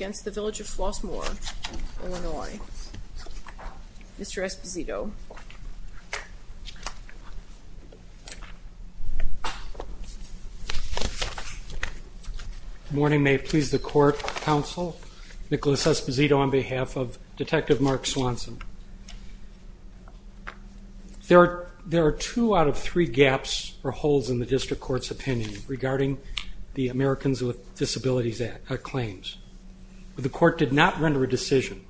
of Flossmoor, Illinois. Mr. Esposito. Good morning. May it please the court, counsel. Nicholas Esposito on behalf of Detective Mark Swanson. There are two out of three gaps or holes in the district court's opinion regarding the case. The court did not render a decision.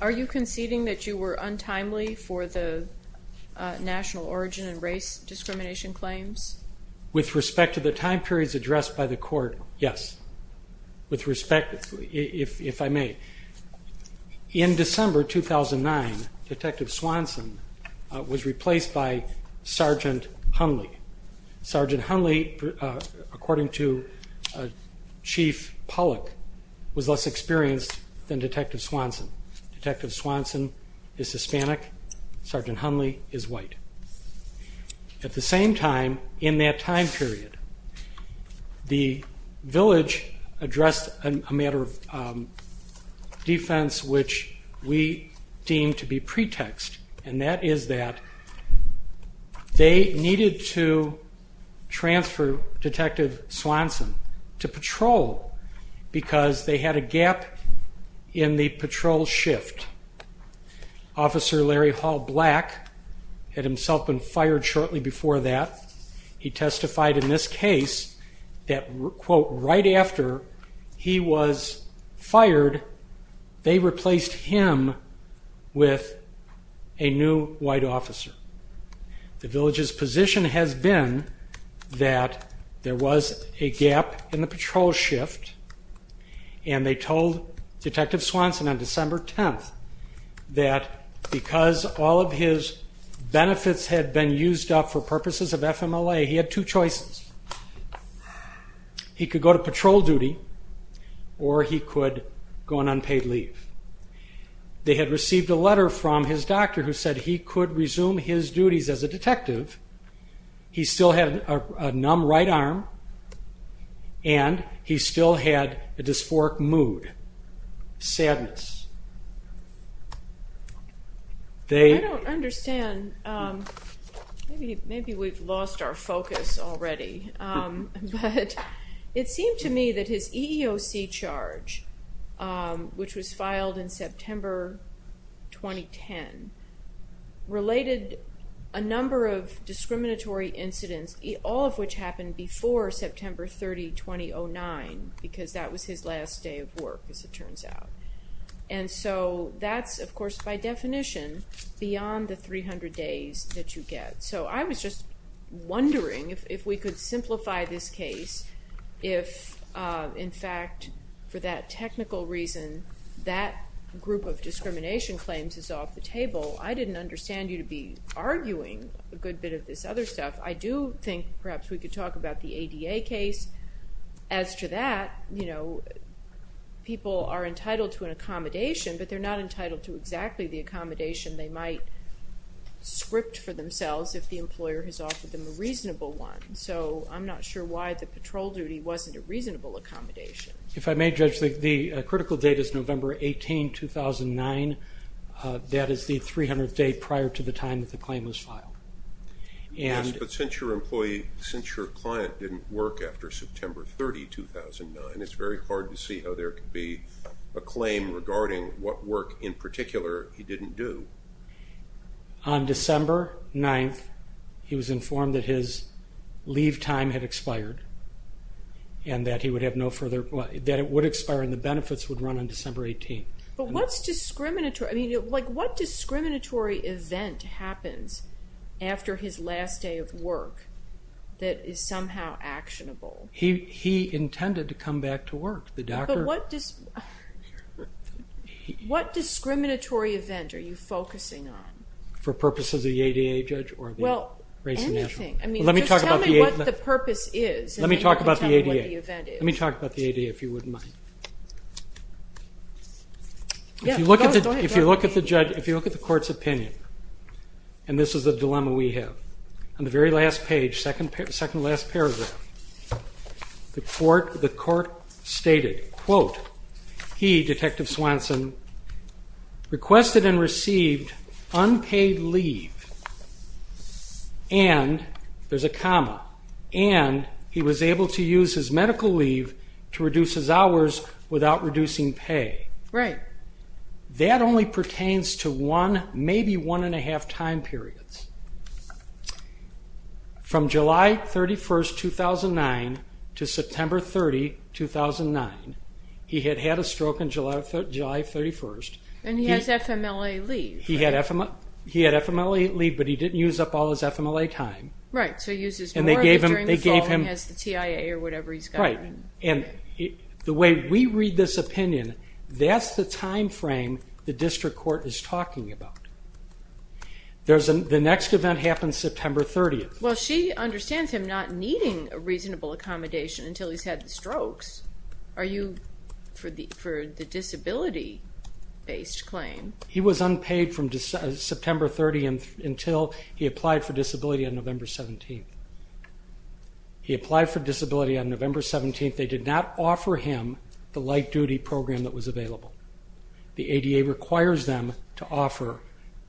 Are you conceding that you were untimely for the national origin and race discrimination claims? With respect to the time periods addressed by the court, yes. With respect, if I may. In December 2009, Detective Swanson was replaced by Sergeant Hunley. Sergeant Hunley, according to Chief Pollack, was less experienced than Detective Swanson. Detective Swanson is Hispanic. Sergeant Hunley is white. At the same time, in that time period, the village addressed a matter of defense which we deem to be pretext, and that is that they needed to transfer Detective Swanson to patrol because they had a gap in the patrol shift. Officer Larry Hall Black had himself been fired shortly before that. He testified in this case that, quote, right after he was fired, they replaced him with a new white officer. The village's position has been that there was a gap in the patrol shift, and they told Detective Swanson on December 10th that because all of his benefits had been used up for purposes of FMLA, he had two choices. He could go to patrol duty or he could go on unpaid leave. They had received a letter from his doctor who said he could resume his duties as a detective. He still had a numb right arm, and he still had a dysphoric mood, sadness. I don't understand. Maybe we've lost our focus already. It seemed to me that his EEOC charge, which was filed in September 2010, related a number of discriminatory incidents, all of which happened before September 30, 2009, because that was his last day of work, as it turns out. That's, of course, by definition, beyond the 300 days that you get. I was just wondering if, for any technical reason, that group of discrimination claims is off the table. I didn't understand you to be arguing a good bit of this other stuff. I do think perhaps we could talk about the ADA case. As to that, people are entitled to an accommodation, but they're not entitled to exactly the accommodation they might script for themselves if the employer has offered them a reasonable one. I'm not sure why the patrol duty wasn't a reasonable accommodation. If I may, Judge, the critical date is November 18, 2009. That is the 300th day prior to the time that the claim was filed. Yes, but since your client didn't work after September 30, 2009, it's very hard to see how there could be a claim regarding what work in particular he didn't do. On December 9th, he was informed that his leave time had no further, that it would expire and the benefits would run on December 18. What discriminatory event happens after his last day of work that is somehow actionable? He intended to come back to work. What discriminatory event are you focusing on? For purposes of the ADA, Judge, or the race and nationality? Anything. Just tell me what the purpose is. Let me talk about the ADA if you wouldn't mind. If you look at the court's opinion, and this is the dilemma we have, on the very last page, second to last paragraph, the court stated, quote, he, Detective Swanson, requested and received unpaid leave and, there's a comma, and he was able to use his medical leave to reduce his hours without reducing pay. That only pertains to maybe one and a half time periods. From July 31, 2009 to September 30, 2009, he had had a stroke on July 31. And he has FMLA leave. He had FMLA leave, but he didn't use up all his FMLA time. Right, so he uses more of it during the fall and has the TIA or whatever he's got. Right. The way we read this opinion, that's the time frame the district court is talking about. The next event happens September 30. Well, she understands him not needing a reasonable accommodation until he's had the strokes. Are you, for the disability based claim? He was unpaid from September 30 until he applied for disability on November 17. He applied for disability on November 17. They did not offer him the light duty program that was available. The ADA requires them to offer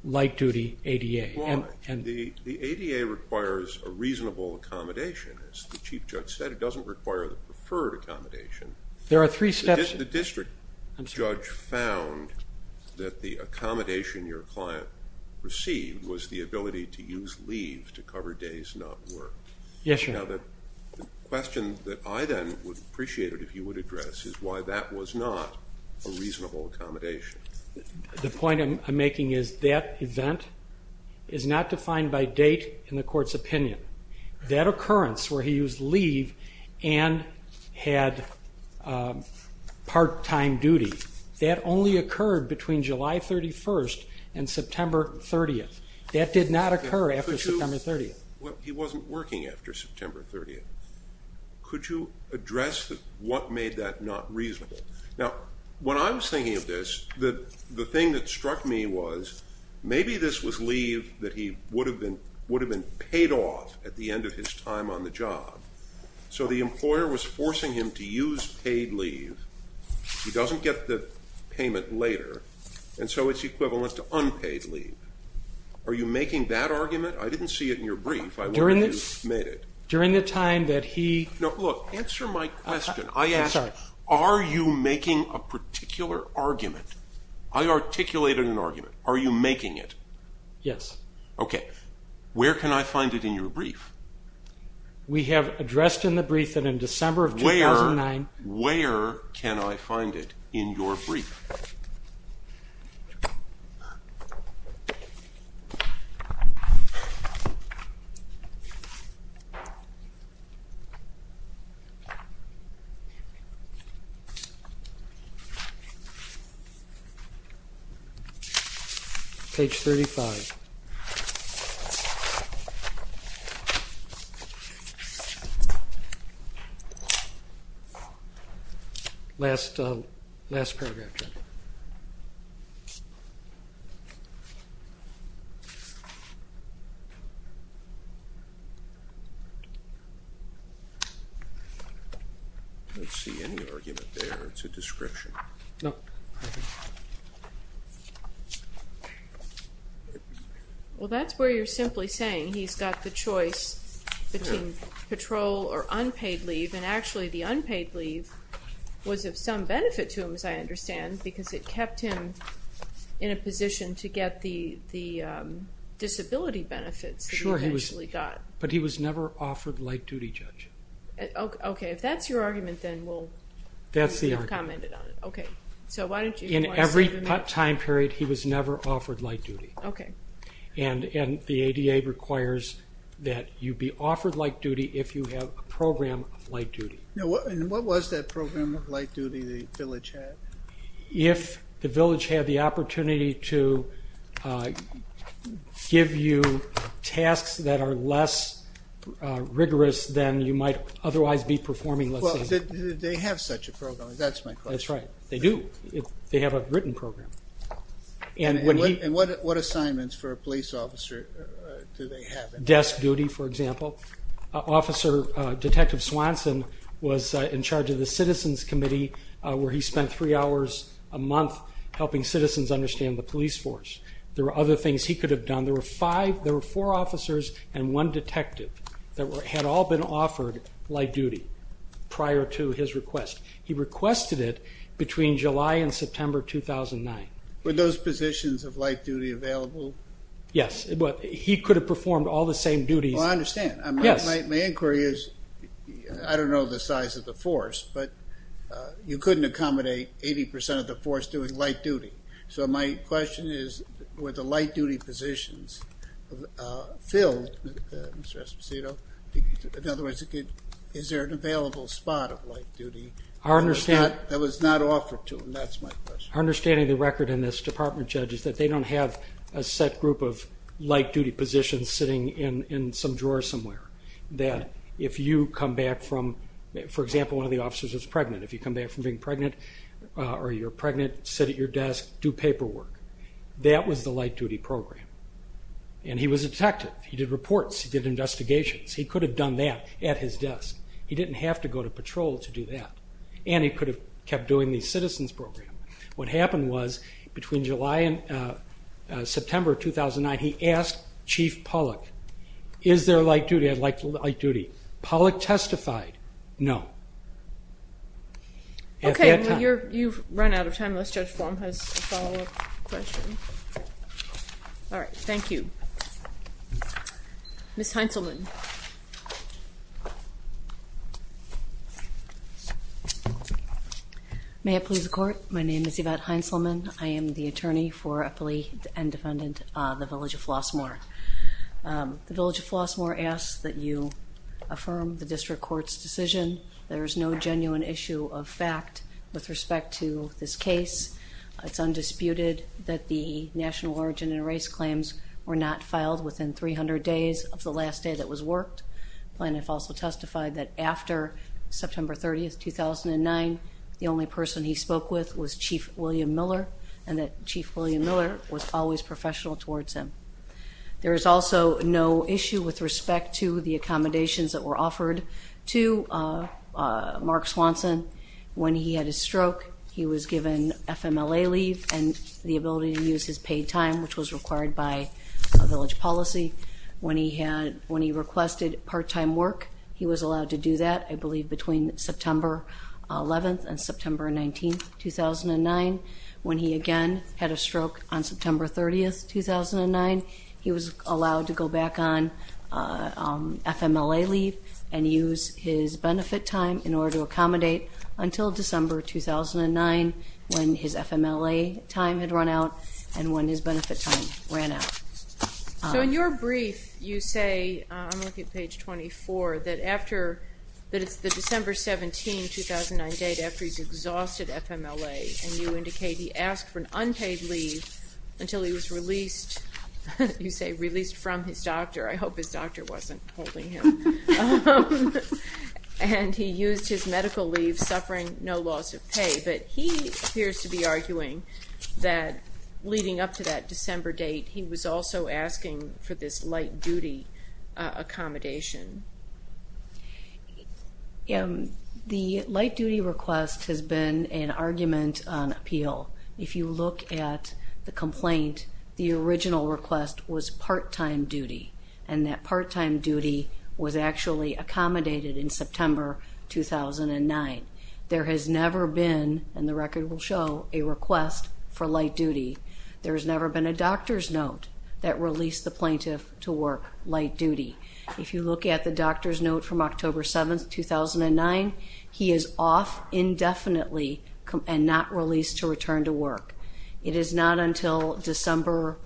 light duty ADA. The ADA requires a reasonable accommodation. As the Chief Judge said, it doesn't require the preferred accommodation. There are three steps. The district judge found that the accommodation your client received was the ability to use leave to cover days not worked. Yes, Your Honor. Now the question that I then would appreciate it if you would address is why that was not a reasonable accommodation. The point I'm making is that event is not defined by date in the court's opinion. That was part-time duty. That only occurred between July 31 and September 30. That did not occur after September 30. He wasn't working after September 30. Could you address what made that not reasonable? Now, when I was thinking of this, the thing that struck me was maybe this was leave that he would have been paid off at the end of his time on the job. So the employer was forcing him to use paid leave. He doesn't get the payment later, and so it's equivalent to unpaid leave. Are you making that argument? I didn't see it in your brief. I wonder if you made it. During the time that he... No, look, answer my question. I asked, are you making a particular argument? I articulated an argument. Are you making it? Yes. Okay. Where can I find it in your brief? We have addressed in the brief that in December of 2009... Where can I find it in your brief? Okay, do you want me to... Page 35. Last paragraph. I don't see any argument there. It's a description. Nope. Well, that's where you're simply saying he's got the choice between patrol or unpaid leave, and actually the unpaid leave was of some benefit to him, as I understand, because it kept him in a position to get the disability benefits that he eventually got. Sure, but he was never offered light duty, Judge. Okay, if that's your argument, then we'll... That's the argument. Okay, so why don't you... In every time period, he was never offered light duty. Okay. And the ADA requires that you be offered light duty if you have a program of light duty. And what was that program of light duty the village had? If the village had the opportunity to give you tasks that are less rigorous than you might otherwise be performing... Well, did they have such a program? That's my question. That's right. They do. They have a written program. And what assignments for a police officer do they have? Desk duty, for example. Officer Detective Swanson was in charge of the Citizens Committee where he spent three hours a month helping citizens understand the police force. There were other things he could have done. There were four officers and one detective that had all been offered light duty prior to his request. He requested it between July and September 2009. Were those positions of light duty available? Yes. He could have performed all the same duties... Well, I understand. My inquiry is, I don't know the size of the force, but you couldn't accommodate 80% of the force doing light duty. So my question is, were the light duty positions filled, Mr. Esposito? In other words, is there an available spot of light duty that was not offered to him? That's my question. Our understanding of the record in this department, Judge, is that they don't have a set group of light duty positions sitting in some drawer somewhere. That if you come back from, for example, one of the officers is pregnant. If you come back from being pregnant or you're pregnant, sit at your desk, do paperwork. That was the light duty program. And he was a detective. He did reports. He did investigations. He could have done that at his desk. He didn't have to go to patrol to do that. And he could have kept doing the citizens program. What happened was, between July and September 2009, he asked Chief Pollack, is there light duty? I'd like light duty. Pollack testified, no. At that time... Okay, you've run out of time, unless Judge Flom has a follow-up question. All right, thank you. Ms. Heintzelman. May I please report? My name is Yvette Heintzelman. I am the attorney for a police and defendant, the Village of Flossmoor. The Village of Flossmoor asks that you affirm the district court's respect to this case. It's undisputed that the national origin and race claims were not filed within 300 days of the last day that was worked. Plaintiff also testified that after September 30th, 2009, the only person he spoke with was Chief William Miller, and that Chief William Miller was always professional towards him. There is also no issue with respect to the accommodations that were offered to Mark Swanson. When he had his stroke, he was given FMLA leave and the ability to use his paid time, which was required by Village policy. When he requested part-time work, he was allowed to do that, I believe, between September 11th and September 19th, 2009. When he again had a stroke on September 30th, 2009, he was allowed to go back on FMLA leave and use his benefit time in order to accommodate until December 2009, when his FMLA time had run out and when his benefit time ran out. So in your brief, you say, I'm looking at page 24, that after, that it's the December 17th, 2008, after he's exhausted FMLA, and you indicate he asked for an unpaid leave until he was released, you say released from his doctor, I hope his doctor wasn't holding him, and he used his medical leave suffering no loss of pay, but he appears to be arguing that leading up to that December date, he was also asking for this light duty accommodation. The light duty request has been an argument on appeal. If you look at the complaint, the original request was part-time duty, and that part-time duty was actually accommodated in September 2009. There has never been, and the record will show, a request for light duty. There's never been a doctor's note that released the plaintiff to work light duty. If you look at the doctor's note from October 7th, 2009, he is off indefinitely and not released to return to work. It is not until December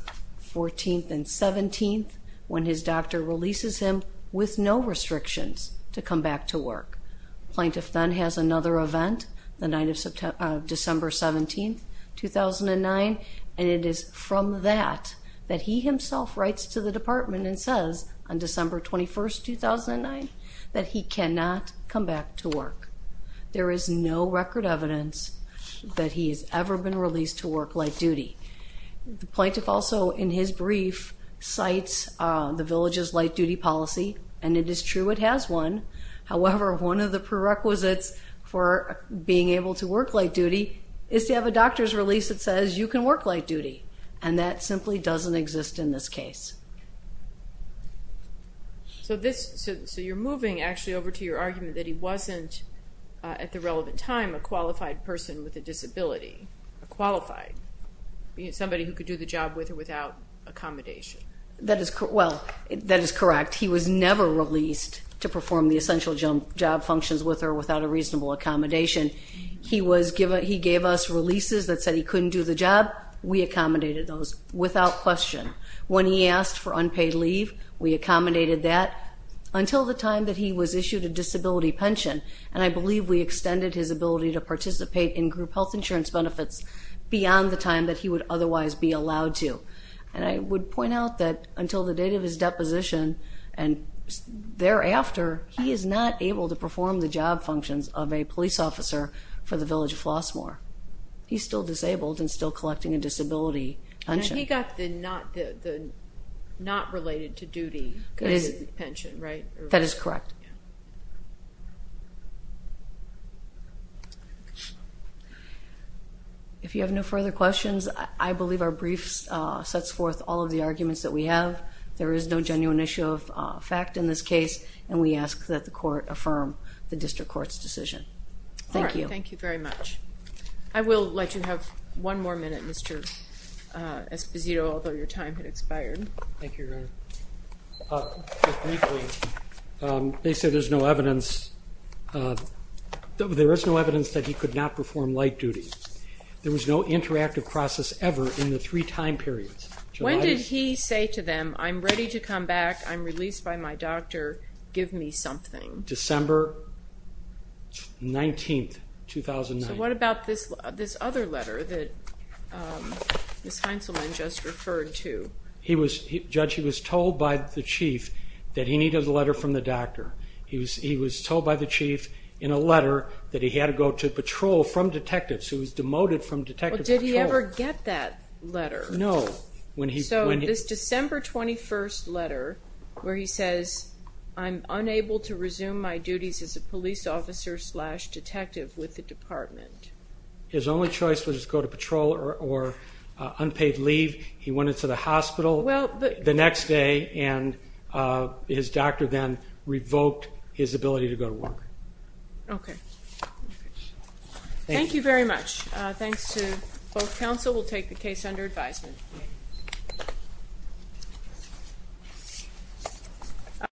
14th and 17th when his doctor releases him with no restrictions to come back to work. Plaintiff then has another event, the night of December 17th, 2009, and it is from that that he himself writes to the department and December 21st, 2009, that he cannot come back to work. There is no record evidence that he has ever been released to work light duty. The plaintiff also, in his brief, cites the village's light duty policy, and it is true it has one. However, one of the prerequisites for being able to work light duty is to have a doctor's release that says you can work light duty, and that simply doesn't exist in this case. So you're moving, actually, over to your argument that he wasn't, at the relevant time, a qualified person with a disability. Qualified. Somebody who could do the job with or without accommodation. That is correct. He was never released to perform the essential job functions with or without accommodation. He gave us releases that said he couldn't do the job. We accommodated those without question. When he asked for unpaid leave, we accommodated that until the time that he was issued a disability pension, and I believe we extended his ability to participate in group health insurance benefits beyond the time that he would otherwise be allowed to. And I would point out that until the date of his deposition and thereafter, he is not able to perform the job functions of a police officer for the village of Flossmoor. He's still disabled and still collecting a disability pension. And he got the not related to duty pension, right? That is correct. If you have no further questions, I believe our briefs sets forth all of the arguments that we have. There is no genuine issue of fact in this case, and we ask that the court affirm the district court's decision. Thank you. All right. Thank you very much. I will let you have one more minute, Mr. Esposito, although your time has expired. Thank you, Your Honor. They said there is no evidence that he could not perform light duties. There was no interactive process ever in the three time periods. When did he say to them, I'm ready to come back, I'm released by my doctor, give me something? December 19, 2009. So what about this other letter that Ms. Heintzelman just referred to? Judge, he was told by the chief that he needed a letter from the doctor. He was told by the chief in a letter that he had to go to patrol from detectives. He was demoted from detective patrol. Did he ever get that letter? No. So this December 21st letter where he says, I'm unable to resume my duties as a police officer slash detective with the department. His only choice was to go to patrol or unpaid leave. He went into the hospital the next day and his doctor then revoked his ability to go to work. Okay. Thank you very much. Thanks to both counsel. We'll take the case under advisement.